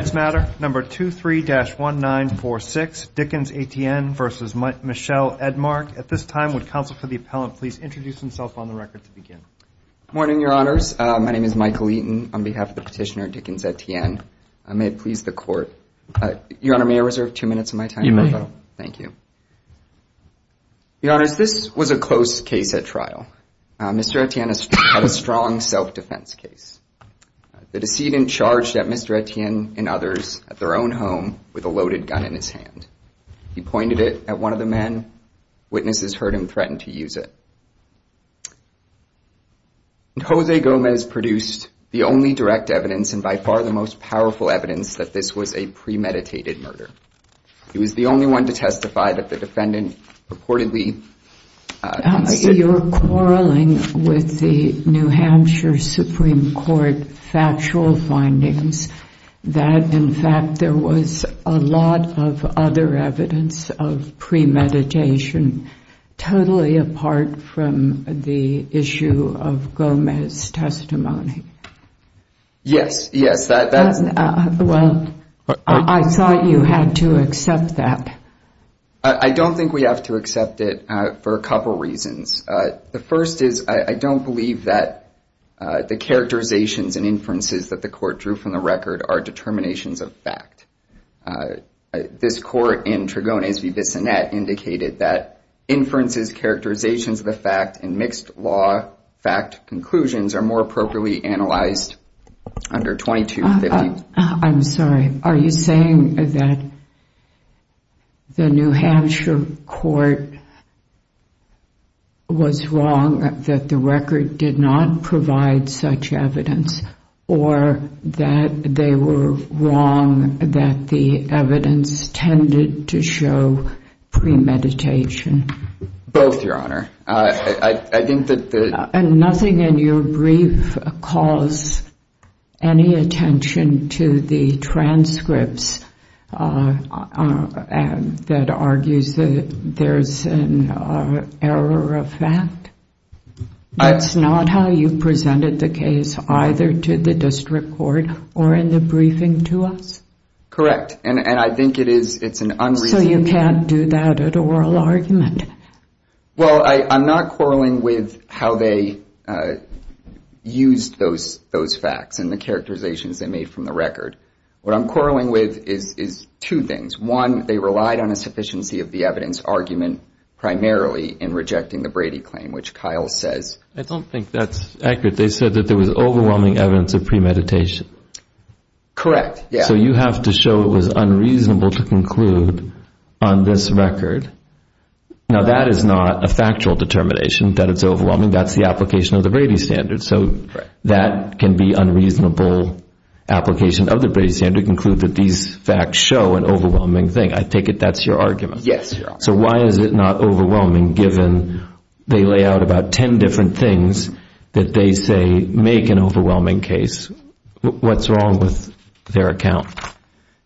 Defense matter, number 23-1946, Dickens-Etienne v. Michel Edmark. At this time, would counsel for the appellant please introduce himself on the record to begin. Good morning, your honors. My name is Michael Eaton on behalf of the petitioner Dickens-Etienne. May it please the court. Your honor, may I reserve two minutes of my time? You may. Thank you. Your honors, this was a close case at trial. Mr. Etienne had a strong self-defense case. The decedent charged Mr. Etienne and others at their own home with a loaded gun in his hand. He pointed it at one of the men. Witnesses heard him threaten to use it. Jose Gomez produced the only direct evidence, and by far the most powerful evidence, that this was a premeditated murder. He was the only one to testify that the defendant purportedly... You're quarreling with the New Hampshire Supreme Court factual findings that, in fact, there was a lot of other evidence of premeditation, totally apart from the issue of Gomez's testimony. Yes, yes. Well, I thought you had to accept that. I don't think we have to accept it for a couple of reasons. The first is I don't believe that the characterizations and inferences that the court drew from the record are determinations of fact. This court in Tregones v. Bissonnette indicated that inferences, characterizations of the fact, and mixed law fact conclusions are more appropriately analyzed under 2250. I'm sorry. Are you saying that the New Hampshire court was wrong, that the record did not provide such evidence, or that they were wrong, that the evidence tended to show premeditation? Both, Your Honor. And nothing in your brief calls any attention to the transcripts that argues that there's an error of fact? That's not how you presented the case, either to the district court or in the briefing to us? Correct. And I think it's an unreasonable... So you can't do that at oral argument? Well, I'm not quarreling with how they used those facts and the characterizations they made from the record. What I'm quarreling with is two things. One, they relied on a sufficiency of the evidence argument primarily in rejecting the Brady claim, which Kyle says. I don't think that's accurate. They said that there was overwhelming evidence of premeditation. Correct. So you have to show it was unreasonable to conclude on this record. Now, that is not a factual determination that it's overwhelming. That's the application of the Brady standard. So that can be unreasonable application of the Brady standard to conclude that these facts show an overwhelming thing. I take it that's your argument? Yes, Your Honor. So why is it not overwhelming, given they lay out about 10 different things that they say make an overwhelming case? What's wrong with their account?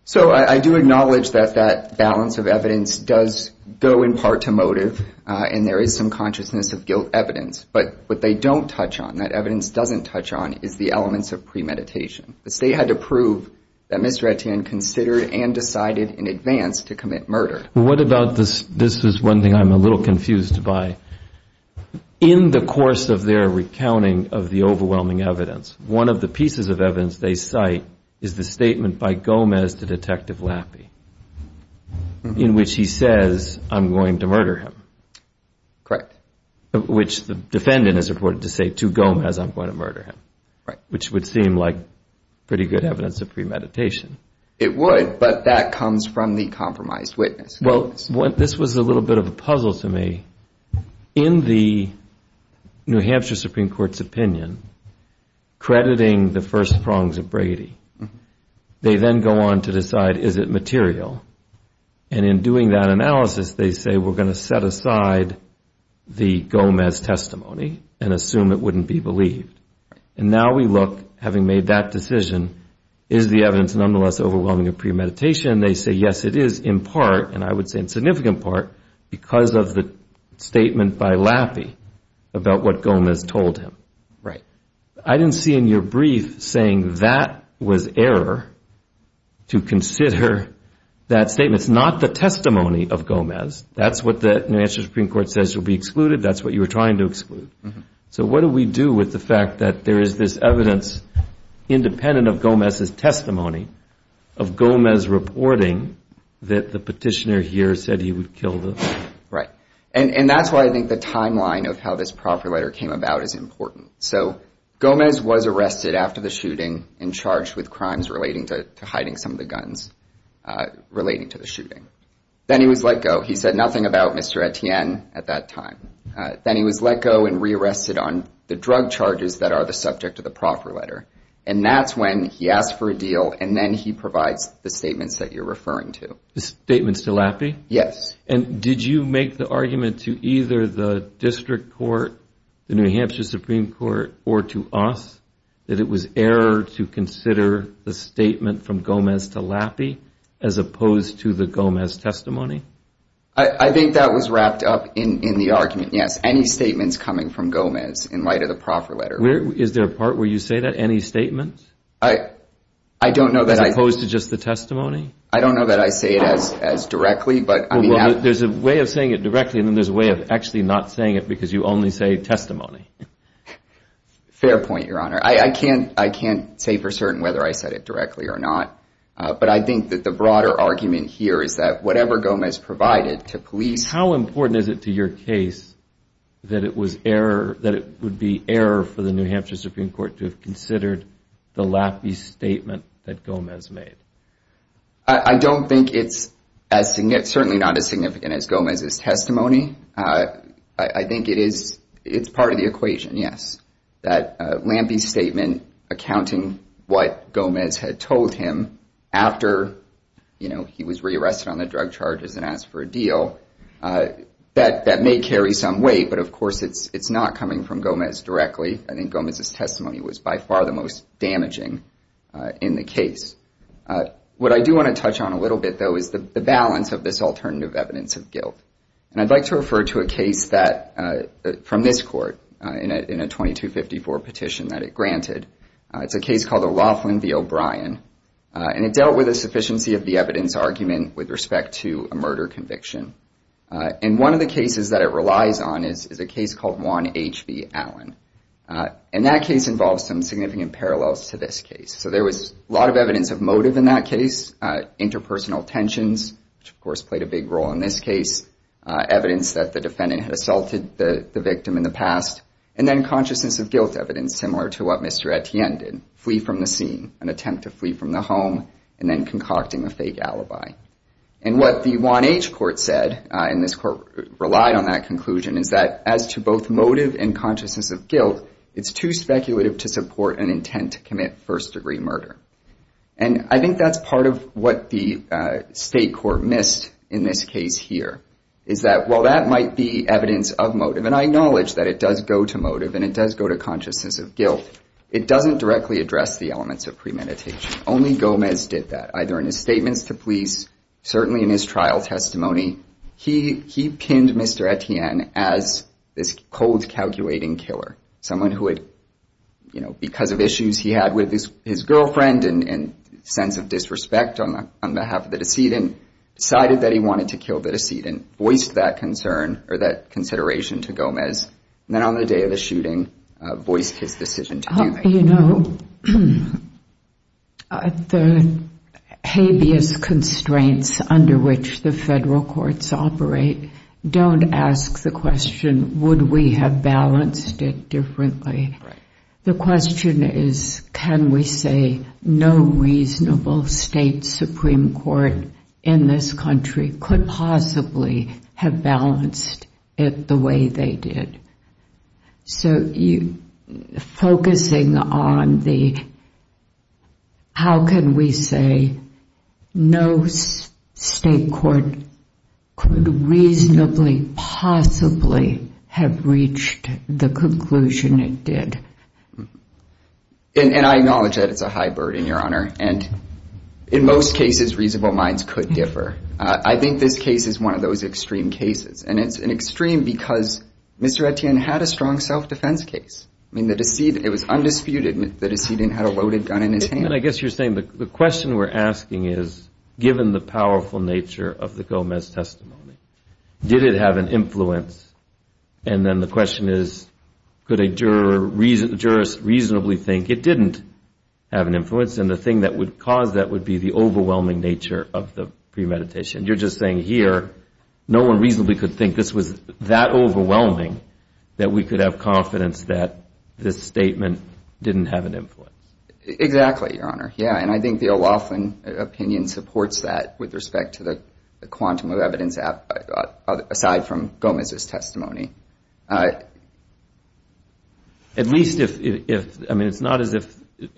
So I do acknowledge that that balance of evidence does go in part to motive and there is some consciousness of guilt evidence. But what they don't touch on, that evidence doesn't touch on, is the elements of premeditation. The state had to prove that Ms. Retien considered and decided in advance to commit murder. What about this? This is one thing I'm a little confused by. In the course of their recounting of the overwhelming evidence, one of the pieces of evidence they cite is the statement by Gomez to Detective Lappy in which he says, I'm going to murder him. Correct. Which the defendant is reported to say to Gomez, I'm going to murder him, which would seem like pretty good evidence of premeditation. It would, but that comes from the compromised witness. Well, this was a little bit of a puzzle to me. In the New Hampshire Supreme Court's opinion, crediting the first prongs of Brady, they then go on to decide, is it material? And in doing that analysis, they say, we're going to set aside the Gomez testimony and assume it wouldn't be believed. And now we look, having made that decision, is the evidence nonetheless overwhelming of premeditation? And they say, yes, it is in part, and I would say in significant part, because of the statement by Lappy about what Gomez told him. Right. I didn't see in your brief saying that was error to consider that statement. It's not the testimony of Gomez. That's what the New Hampshire Supreme Court says will be excluded. That's what you were trying to exclude. So what do we do with the fact that there is this evidence, independent of Gomez's testimony, of Gomez reporting that the petitioner here said he would kill him? Right. And that's why I think the timeline of how this proper letter came about is important. So Gomez was arrested after the shooting and charged with crimes relating to hiding some of the guns relating to the shooting. Then he was let go. He said nothing about Mr. Etienne at that time. Then he was let go and rearrested on the drug charges that are the subject of the proper letter. And that's when he asked for a deal. And then he provides the statements that you're referring to. The statements to Lappy? Yes. And did you make the argument to either the district court, the New Hampshire Supreme Court, or to us that it was error to consider the statement from Gomez to Lappy as opposed to the Gomez testimony? I think that was wrapped up in the argument. Any statements coming from Gomez in light of the proper letter. Is there a part where you say that? Any statements? I don't know that. As opposed to just the testimony? I don't know that I say it as directly, but I mean. There's a way of saying it directly and then there's a way of actually not saying it because you only say testimony. Fair point, Your Honor. I can't say for certain whether I said it directly or not. But I think that the broader argument here is that whatever Gomez provided to police. How important is it to your case that it was error, that it would be error for the New Hampshire Supreme Court to have considered the Lappy statement that Gomez made? I don't think it's as significant, certainly not as significant as Gomez's testimony. I think it is. It's part of the equation. Yes. That Lappy's statement accounting what Gomez had told him after he was rearrested on the drug charges and asked for a deal, that may carry some weight. But of course, it's not coming from Gomez directly. I think Gomez's testimony was by far the most damaging in the case. What I do want to touch on a little bit, though, is the balance of this alternative evidence of guilt. And I'd like to refer to a case from this court in a 2254 petition that it granted. It's a case called O'Loughlin v. O'Brien. And it dealt with a sufficiency of the evidence argument with respect to a murder conviction. And one of the cases that it relies on is a case called Juan H. v. Allen. And that case involves some significant parallels to this case. So there was a lot of evidence of motive in that case, interpersonal tensions, which of course played a big role in this case. Evidence that the defendant had assaulted the victim in the past. And then consciousness of guilt evidence, similar to what Mr. Etienne did, flee from the scene, an attempt to flee from the home, and then concocting a fake alibi. And what the Juan H. court said, and this court relied on that conclusion, is that as to both motive and consciousness of guilt, it's too speculative to support an intent to commit first degree murder. And I think that's part of what the state court missed in this case here. Is that while that might be evidence of motive, and I acknowledge that it does go to motive and it does go to consciousness of guilt, it doesn't directly address the elements of premeditation. Only Gomez did that. Either in his statements to police, certainly in his trial testimony, he pinned Mr. Etienne as this cold calculating killer. Someone who had, you know, because of issues he had with his girlfriend and sense of disrespect on behalf of the decedent, decided that he wanted to kill the decedent. Voiced that concern or that consideration to Gomez, and then on the day of the shooting, voiced his decision to do that. You know, the habeas constraints under which the federal courts operate, don't ask the question, would we have balanced it differently? The question is, can we say no reasonable state Supreme Court in this country could possibly have balanced it the way they did? So you, focusing on the, how can we say no state court could reasonably possibly have reached the conclusion it did? And I acknowledge that it's a high burden, Your Honor. And in most cases, reasonable minds could differ. I think this case is one of those extreme cases. And it's an extreme because Mr. Etienne had a strong self-defense case. I mean, the decedent, it was undisputed that the decedent had a loaded gun in his hand. And I guess you're saying the question we're asking is, given the powerful nature of the Gomez testimony, did it have an influence? And then the question is, could a juror reasonably think it didn't have an influence? And the thing that would cause that would be the overwhelming nature of the premeditation. You're just saying here, no one reasonably could think this was that overwhelming that we could have confidence that this statement didn't have an influence. Exactly, Your Honor. Yeah. And I think the O'Roughen opinion supports that with respect to the quantum of evidence, aside from Gomez's testimony. At least if, I mean, it's not as if,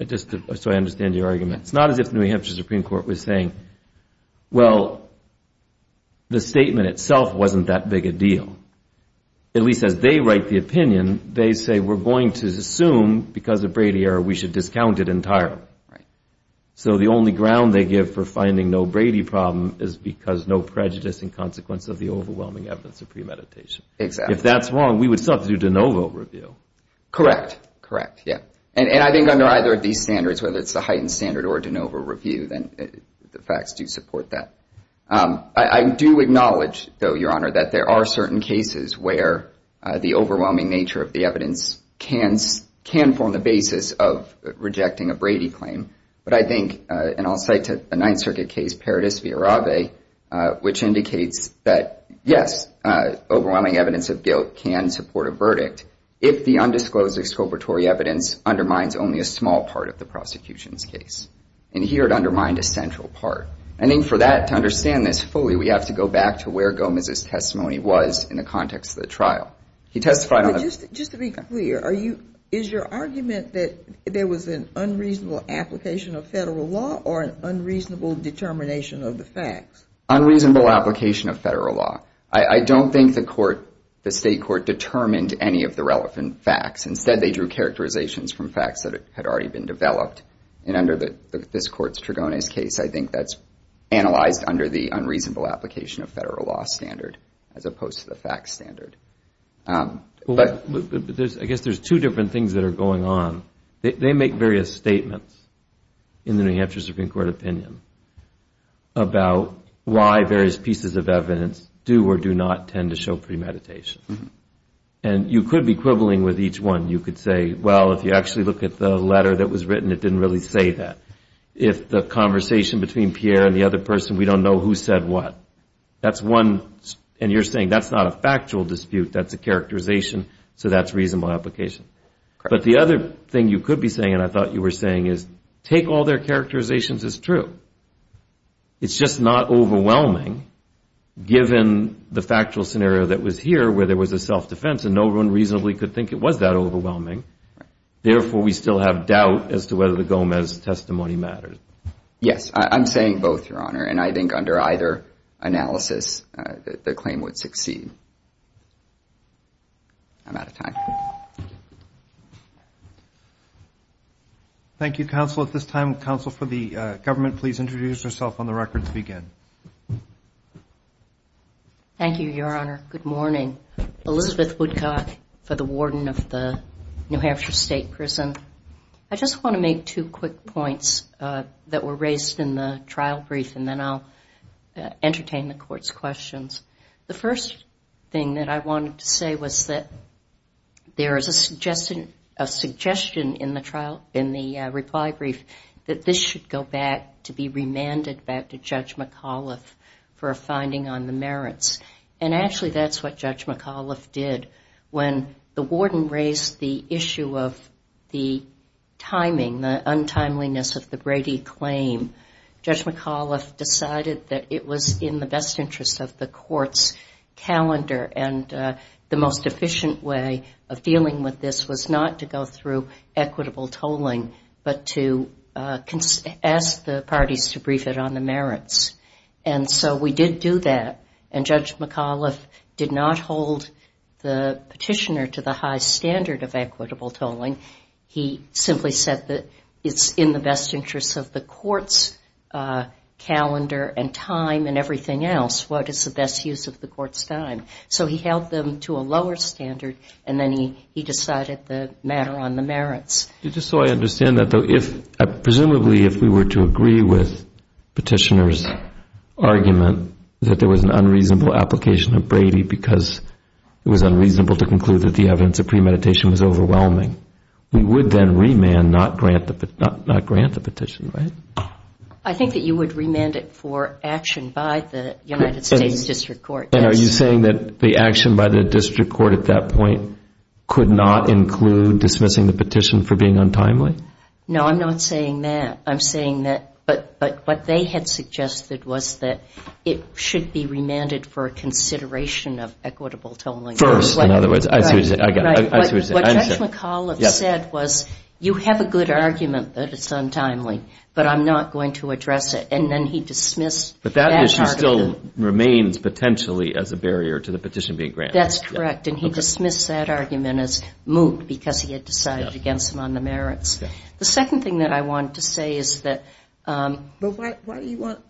just so I understand your argument, it's not as if New Hampshire Supreme Court was saying, well, the statement itself wasn't that big a deal. At least as they write the opinion, they say, we're going to assume because of Brady error, we should discount it entirely. So the only ground they give for finding no Brady problem is because no prejudice in consequence of the overwhelming evidence of premeditation. Exactly. If that's wrong, we would still have to do de novo review. Correct. Correct. Yeah. And I think under either of these standards, whether it's the heightened standard or de novo review, then the facts do support that. I do acknowledge, though, Your Honor, that there are certain cases where the overwhelming nature of the evidence can form the basis of rejecting a Brady claim. But I think, and I'll cite a Ninth Circuit case, Paradis v. Arabe, which indicates that, yes, overwhelming evidence of guilt can support a verdict if the undisclosed exculpatory evidence undermines only a small part of the prosecution's case. And here it undermined a central part. I think for that, to understand this fully, we have to go back to where Gomez's testimony was in the context of the trial. He testified on the... Just to be clear, is your argument that there was an unreasonable application of federal law or an unreasonable determination of the facts? Unreasonable application of federal law. I don't think the court, the state court, determined any of the relevant facts. Instead, they drew characterizations from facts that had already been developed. And under this court's Tregone's case, I think that's analyzed under the unreasonable application of federal law standard as opposed to the facts standard. But I guess there's two different things that are going on. They make various statements in the New Hampshire Supreme Court opinion about why various pieces of evidence do or do not tend to show premeditation. And you could be quibbling with each one. You could say, well, if you actually look at the letter that was written, it didn't really say that. If the conversation between Pierre and the other person, we don't know who said what. That's one. And you're saying that's not a factual dispute. That's a characterization. So that's reasonable application. But the other thing you could be saying, and I thought you were saying, is take all their characterizations as true. But it's just not overwhelming, given the factual scenario that was here where there was a self-defense and no one reasonably could think it was that overwhelming. Therefore, we still have doubt as to whether the Gomez testimony matters. Yes, I'm saying both, Your Honor. And I think under either analysis, the claim would succeed. I'm out of time. Thank you, counsel. At this time, counsel for the government, please introduce yourself on the record to begin. Thank you, Your Honor. Good morning. Elizabeth Woodcock for the warden of the New Hampshire State Prison. I just want to make two quick points that were raised in the trial brief, and then I'll entertain the court's questions. The first thing that I wanted to say was that there is a suggestion in the reply brief that this should go back to be remanded back to Judge McAuliffe for a finding on the merits. And actually, that's what Judge McAuliffe did. When the warden raised the issue of the timing, the untimeliness of the Brady claim, Judge McAuliffe decided that it was in the best interest of the court's calendar. And the most efficient way of dealing with this was not to go through equitable tolling, but to ask the parties to brief it on the merits. And so we did do that, and Judge McAuliffe did not hold the petitioner to the high standard of equitable tolling. He simply said that it's in the best interest of the court's calendar and time and everything else. What is the best use of the court's time? So he held them to a lower standard, and then he decided the matter on the merits. Just so I understand that, though, if presumably if we were to agree with petitioner's argument that there was an unreasonable application of Brady because it was unreasonable to conclude that the evidence of premeditation was overwhelming, we would then remand, not grant the petition, right? I think that you would remand it for action by the United States District Court. And are you saying that the action by the District Court at that point could not include dismissing the petition for being untimely? No, I'm not saying that. I'm saying that, but what they had suggested was that it should be remanded for a consideration of equitable tolling. First, in other words. I see what you're saying. I got it. I see what you're saying. What Judge McAuliffe said was, you have a good argument that it's untimely, but I'm not going to address it. But that issue still remains potentially as a barrier to the petition being granted. That's correct. And he dismissed that argument as moot because he had decided against it on the merits. The second thing that I want to say is that... But why do you want...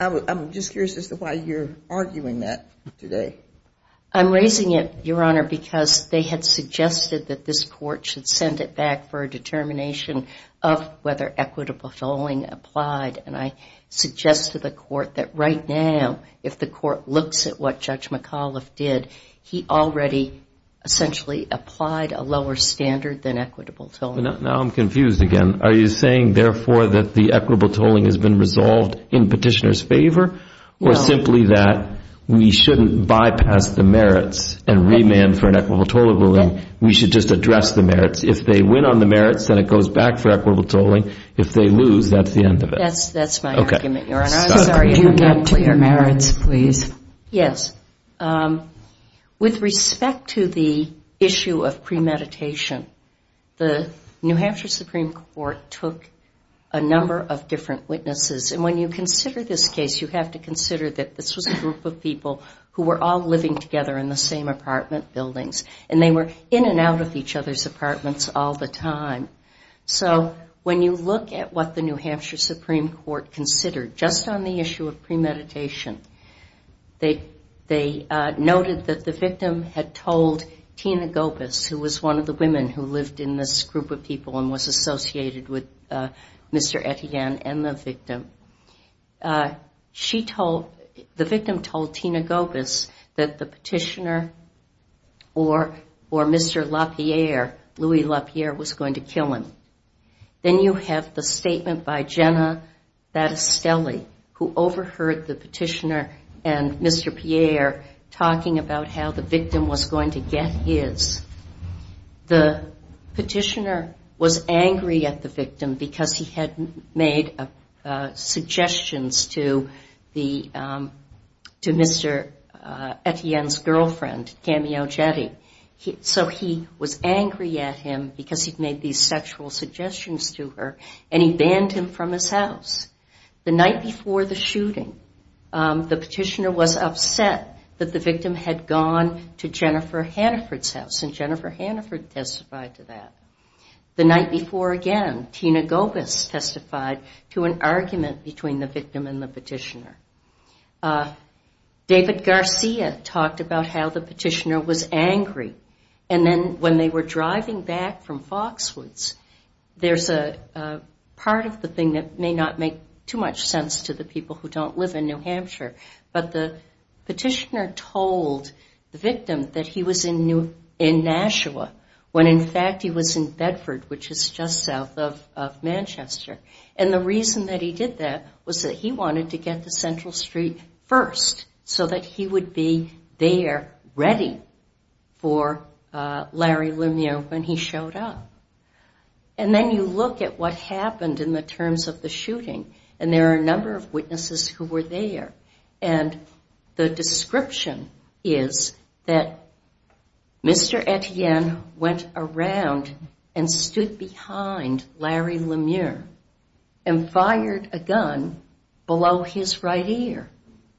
I'm just curious as to why you're arguing that today. I'm raising it, Your Honor, because they had suggested that this court should send it back for a determination of whether equitable tolling applied. And I suggest to the court that right now, if the court looks at what Judge McAuliffe did, he already essentially applied a lower standard than equitable tolling. Now I'm confused again. Are you saying, therefore, that the equitable tolling has been resolved in petitioner's favor or simply that we shouldn't bypass the merits and remand for an equitable tolling ruling? We should just address the merits. If they win on the merits, then it goes back for equitable tolling. If they lose, that's the end of it. That's my argument, Your Honor. I'm sorry. Could you get to your merits, please? Yes. With respect to the issue of premeditation, the New Hampshire Supreme Court took a number of different witnesses. And when you consider this case, you have to consider that this was a group of people who were all living together in the same apartment buildings. And they were in and out of each other's apartments all the time. So when you look at what the New Hampshire Supreme Court considered just on the issue of premeditation, they noted that the victim had told Tina Gopas, who was one of the women who lived in this group of people and was associated with Mr. Etienne and the victim. The victim told Tina Gopas that the petitioner or Mr. LaPierre, Louis LaPierre, was going to kill him. Then you have the statement by Jenna Battistelli, who overheard the petitioner and Mr. Pierre talking about how the victim was going to get his. The petitioner was angry at the victim because he had made suggestions to Mr. Etienne's girlfriend, Camille Jette. So he was angry at him because he'd made these sexual suggestions to her and he banned him from his house. The night before the shooting, the petitioner was upset that the victim had gone to Jennifer Hannaford's house and Jennifer Hannaford testified to that. The night before again, Tina Gopas testified to an argument between the victim and the petitioner. David Garcia talked about how the petitioner was angry and then when they were driving back from Foxwoods, there's a part of the thing that may not make too much sense to the people who don't live in New Hampshire, but the petitioner told the victim that he was in Nashua, when in fact he was in Bedford, which is just south of Manchester. And the reason that he did that was that he wanted to get to Central Street first so that he would be there ready for Larry Lemieux when he showed up. And then you look at what happened in the terms of the shooting and there are a number of witnesses who were there and the description is that Mr. Etienne went around and stood behind Larry Lemieux. And fired a gun below his right ear,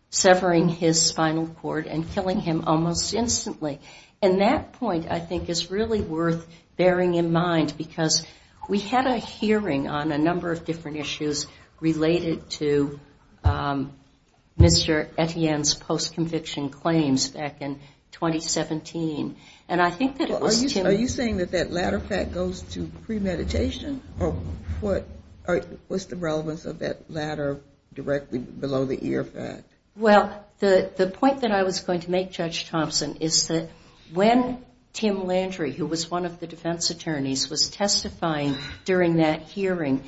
severing his spinal cord and killing him almost instantly. And that point I think is really worth bearing in mind because we had a hearing on a number of different issues related to Mr. Etienne's post-conviction claims back in 2017. And I think that it was Tim... Are you saying that that latter fact goes to premeditation or what's the relevance of that latter directly below the ear fact? Well, the point that I was going to make, Judge Thompson, is that when Tim Landry, who was one of the defense attorneys, was testifying during that hearing,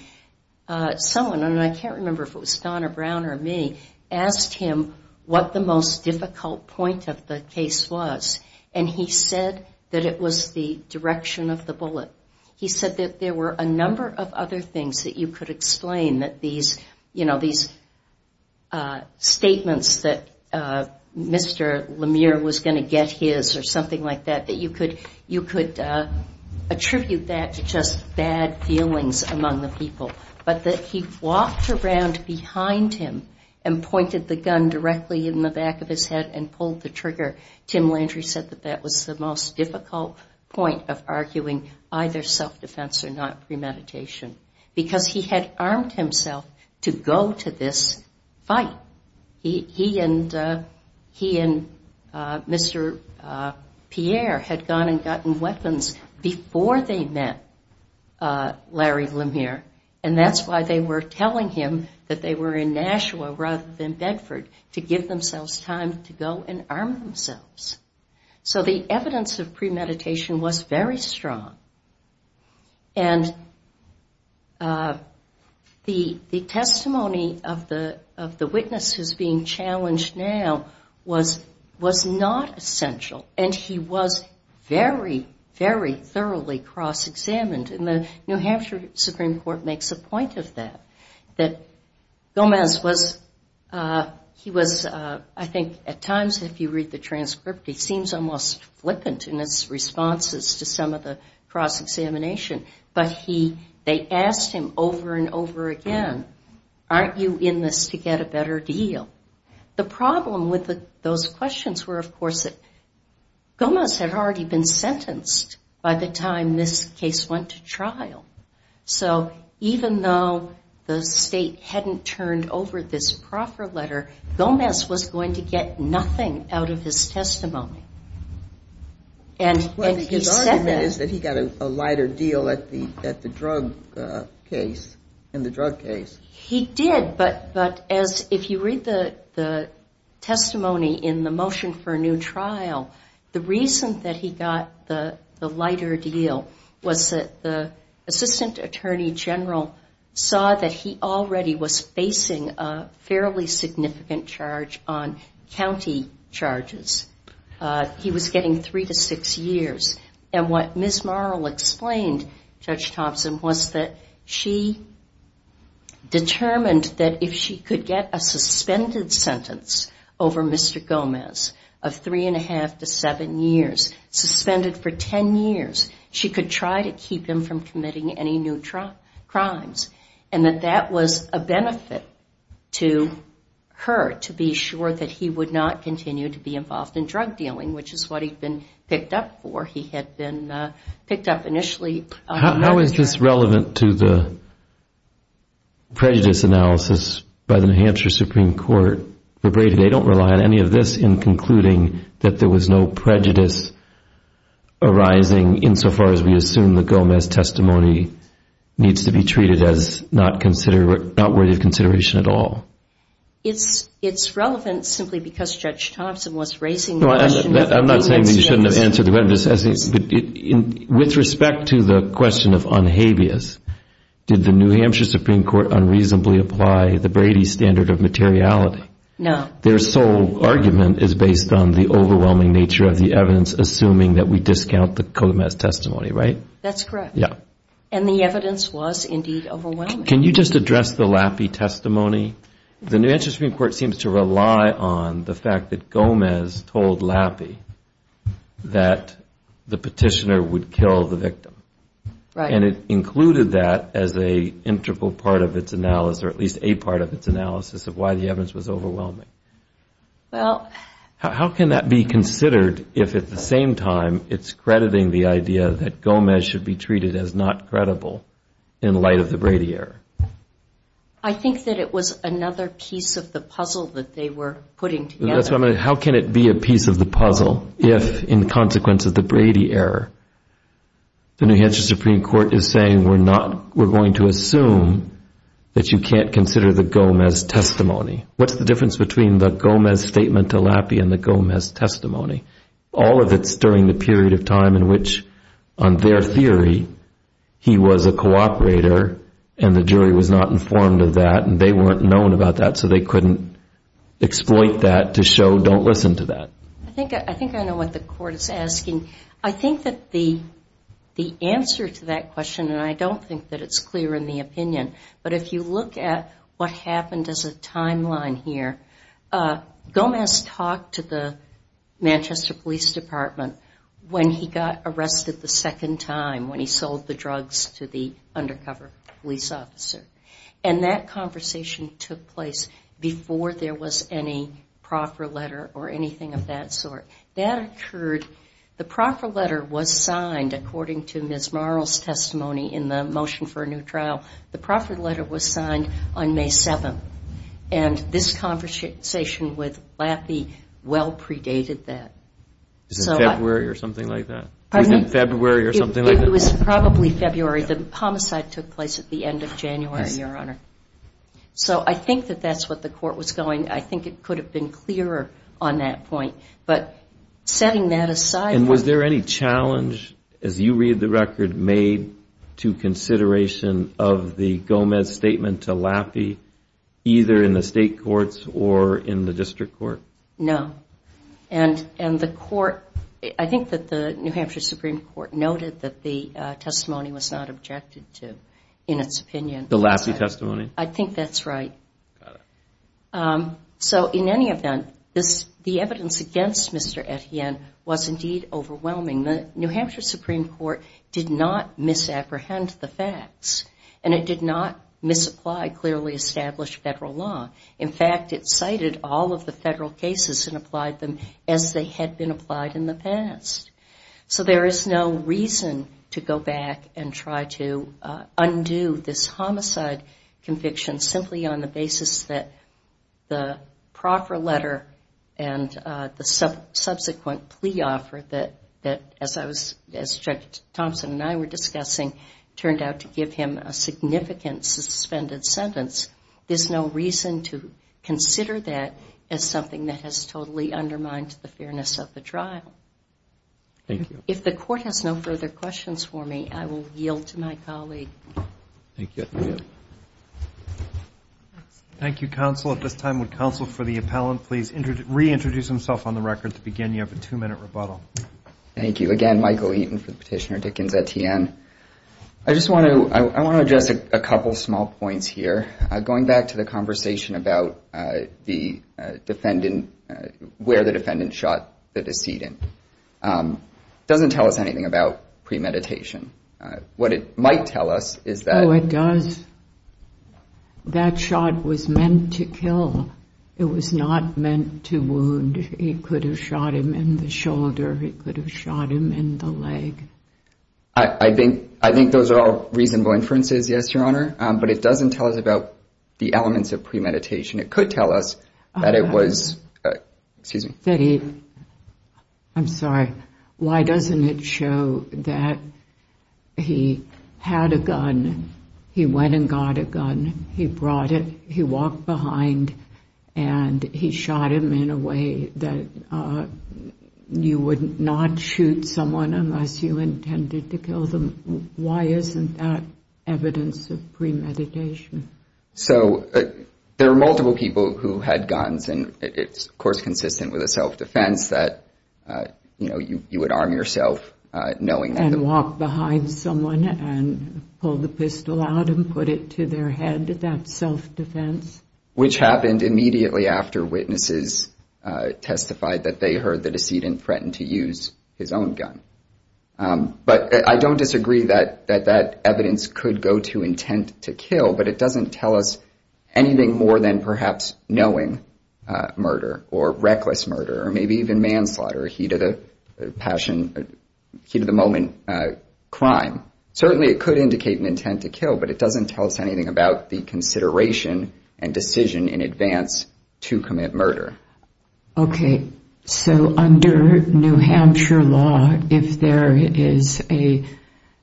someone, and I can't remember if it was Don or Brown or me, asked him what the most difficult point of the case was. And he said that it was the direction of the bullet. He said that there were a number of other things that you could explain that these, you know, these statements that Mr. Lemieux was going to get his or something like that, that you could attribute that to just bad feelings among the people. But that he walked around behind him and pointed the gun directly in the back of his head and pulled the trigger. Tim Landry said that that was the most difficult point of arguing either self-defense or not premeditation because he had armed himself to go to this fight. He and Mr. Pierre had gone and gotten weapons before they met Larry Lemieux. And that's why they were telling him that they were in Nashua rather than Bedford, to give themselves time to go and arm themselves. So the evidence of premeditation was very strong. And the testimony of the witness who's being challenged now was not essential. And he was very, very thoroughly cross-examined. And the New Hampshire Supreme Court makes a point of that, that Gomez was, he was, I think at times if you read the transcript, he seems almost flippant in his responses to some of the cross-examination. But he, they asked him over and over again, aren't you in this to get a better deal? The problem with those questions were, of course, that Gomez had already been sentenced by the time this case went to trial. So even though the state hadn't turned over this proffer letter, Gomez was going to get nothing out of his testimony. And his argument is that he got a lighter deal at the, at the drug case, in the drug case. He did, but, but as, if you read the, the testimony in the motion for a new trial, the reason that he got the, the lighter deal was that the assistant attorney general saw that he already was facing a fairly significant charge on county charges. He was getting three to six years. And what Ms. Marl explained, Judge Thompson, was that she determined that if she could get a suspended sentence over Mr. Gomez of three and a half to seven years, suspended for ten years, she could try to keep him from committing any new crimes. And that that was a benefit to her, to be sure that he would not continue to be involved in drug dealing, which is what he'd been picked up for. He had been picked up initially. How is this relevant to the prejudice analysis by the New Hampshire Supreme Court? They don't rely on any of this in concluding that there was no prejudice arising insofar as we assume the Gomez testimony needs to be treated as not consider, not worthy of consideration at all. It's, it's relevant simply because Judge Thompson was raising the question. I'm not saying that you shouldn't have answered the question, but with respect to the question of unhabeas, did the New Hampshire Supreme Court unreasonably apply the Brady standard of materiality? No. Their sole argument is based on the overwhelming nature of the evidence, assuming that we discount the Gomez testimony, right? That's correct. Yeah. And the evidence was indeed overwhelming. Can you just address the Lappe testimony? The New Hampshire Supreme Court seems to rely on the fact that Gomez told Lappe that the petitioner would kill the victim. Right. And it included that as a integral part of its analysis, or at least a part of its analysis of why the evidence was overwhelming. Well. How can that be considered if at the same time it's crediting the idea that Gomez should be treated as not credible in light of the Brady error? I think that it was another piece of the puzzle that they were putting together. How can it be a piece of the puzzle if, in consequence of the Brady error, the New Hampshire Supreme Court is saying we're not, we're going to assume that you can't consider the Gomez testimony? What's the difference between the Gomez statement to Lappe and the Gomez testimony? All of it's during the period of time in which, on their theory, he was a cooperator and the jury was not informed of that, and they weren't known about that, so they couldn't exploit that to show don't listen to that. I think I know what the court is asking. I think that the answer to that question, and I don't think that it's clear in the opinion, but if you look at what happened as a timeline here, Gomez talked to the Manchester Police Department when he got arrested the second time when he sold the drugs to the undercover police officer. And that conversation took place before there was any proffer letter or anything of that sort. That occurred, the proffer letter was signed according to Ms. Marl's testimony in the motion for a new trial. The proffer letter was signed on May 7th. And this conversation with Lappe well predated that. Was it February or something like that? Pardon me? Was it February or something like that? It was probably February. The homicide took place at the end of January, Your Honor. So I think that that's what the court was going. I think it could have been clearer on that point. But setting that aside... And was there any challenge, as you read the record, made to consideration of the Gomez statement to Lappe, either in the state courts or in the district court? No. And the court, I think that the New Hampshire Supreme Court noted that the testimony was not objected to in its opinion. The Lappe testimony? I think that's right. Got it. So in any event, the evidence against Mr. Etienne was indeed overwhelming. The New Hampshire Supreme Court did not misapprehend the facts and it did not misapply clearly established federal law. In fact, it cited all of the federal cases and applied them as they had been applied in the past. So there is no reason to go back and try to undo this homicide conviction simply on the basis that the proffer letter and the subsequent plea offer that, as Judge Thompson and I were discussing, turned out to give him a significant suspended sentence. There's no reason to consider that as something that has totally undermined the fairness of the trial. Thank you. If the court has no further questions for me, I will yield to my colleague. Thank you. Thank you, counsel. At this time, would counsel for the appellant please reintroduce himself on the record to begin? You have a two minute rebuttal. Thank you again, Michael Eaton for the petitioner, Dickens, Etienne. I just want to, I want to address a couple of small points here. Going back to the conversation about the defendant, where the defendant shot the decedent. It doesn't tell us anything about premeditation. What it might tell us is that. Oh, it does. That shot was meant to kill. It was not meant to wound. He could have shot him in the shoulder. He could have shot him in the leg. I think, I think those are all reasonable inferences. Yes, Your Honor. But it doesn't tell us about the elements of premeditation. It could tell us that it was, excuse me. That he, I'm sorry, why doesn't it show that he had a gun, he went and got a gun, he brought it, he walked behind, and he shot him in a way that you would not shoot someone unless you intended to kill them. Why isn't that evidence of premeditation? So there are multiple people who had guns, and it's, of course, consistent with a self-defense that, you know, you would arm yourself knowing that. And walk behind someone and pull the pistol out and put it to their head, that's self-defense. Which happened immediately after witnesses testified that they heard the decedent threatened to use his own gun. But I don't disagree that that evidence could go to intent to kill, but it doesn't tell us anything more than perhaps knowing murder, or reckless murder, or maybe even manslaughter, or heat of the passion, heat of the moment crime. Certainly, it could indicate an intent to kill, but it doesn't tell us anything about the consideration and decision in advance to commit murder. Okay, so under New Hampshire law, if there is a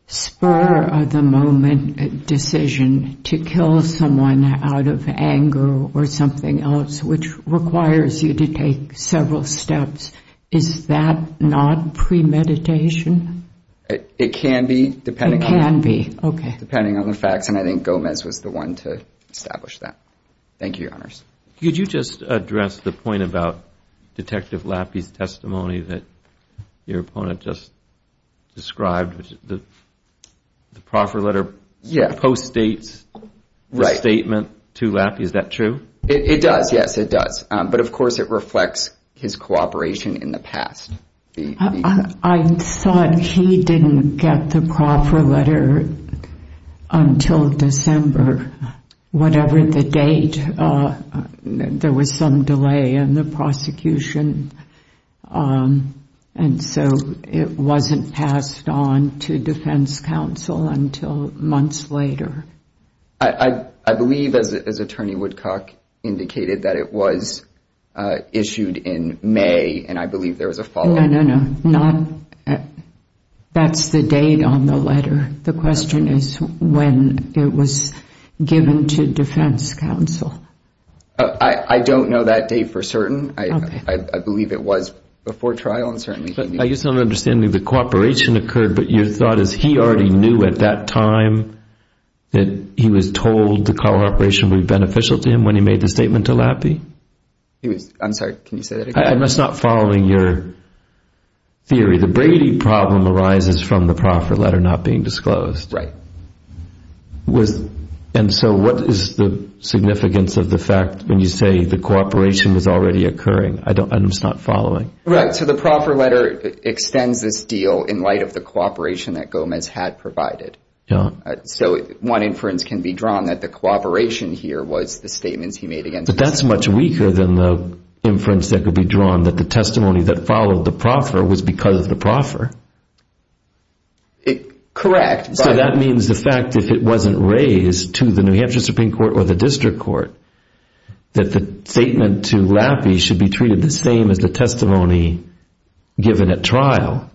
spur-of-the-moment decision to kill someone out of anger or something else, which requires you to take several steps, is that not premeditation? It can be, depending on the facts, and I think Gomez was the one to establish that. Thank you, Your Honors. Could you just address the point about Detective Lappy's testimony that your opponent just described, the proffer letter post-states the statement to Lappy, is that true? It does, yes, it does. But, of course, it reflects his cooperation in the past. I thought he didn't get the proffer letter until December, whatever the date. There was some delay in the prosecution, and so it wasn't passed on to defense counsel until months later. I believe, as Attorney Woodcock indicated, that it was issued in May, and I believe there was a follow-up. No, no, no. That's the date on the letter. The question is when it was given to defense counsel. I don't know that date for certain. I believe it was before trial, and certainly can be. I guess I'm not understanding the cooperation occurred, but your thought is he already knew at that time that he was told the cooperation would be beneficial to him when he made the statement to Lappy? I'm sorry, can you say that again? I'm just not following your theory. The Brady problem arises from the proffer letter not being disclosed. Right. And so what is the significance of the fact when you say the cooperation was already occurring? I'm just not following. Right, so the proffer letter extends this deal in light of the cooperation that Gomez had provided. So one inference can be drawn that the cooperation here was the statements he made against himself. But that's much weaker than the inference that could be drawn that the testimony that followed the proffer was because of the proffer. Correct. So that means the fact if it wasn't raised to the New Hampshire Supreme Court or the district court, that the statement to Lappy should be treated the same as the testimony given at trial.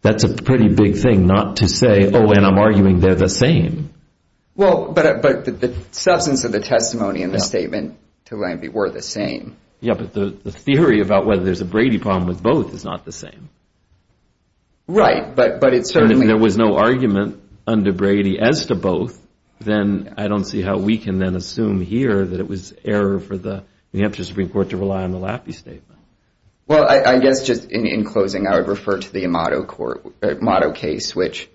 That's a pretty big thing not to say, oh, and I'm arguing they're the same. Well, but the substance of the testimony in the statement to Lappy were the same. Yeah, but the theory about whether there's a Brady problem with both is not the same. Right, but it certainly... If there was no argument under Brady as to both, then I don't see how we can then assume here that it was error for the New Hampshire Supreme Court to rely on the Lappy statement. Well, I guess just in closing, I would refer to the Amato case, which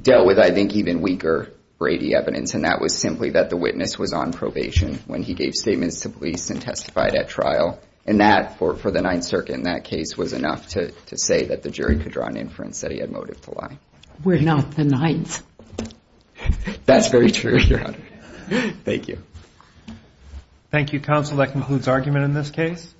dealt with, I think, even weaker Brady evidence. And that was simply that the witness was on probation when he gave statements to police and testified at trial. And that, for the Ninth Circuit in that case, was enough to say that the jury could draw an inference that he had motive to lie. We're not the Ninth. That's very true, Your Honor. Thank you. Thank you, counsel. That concludes argument in this case.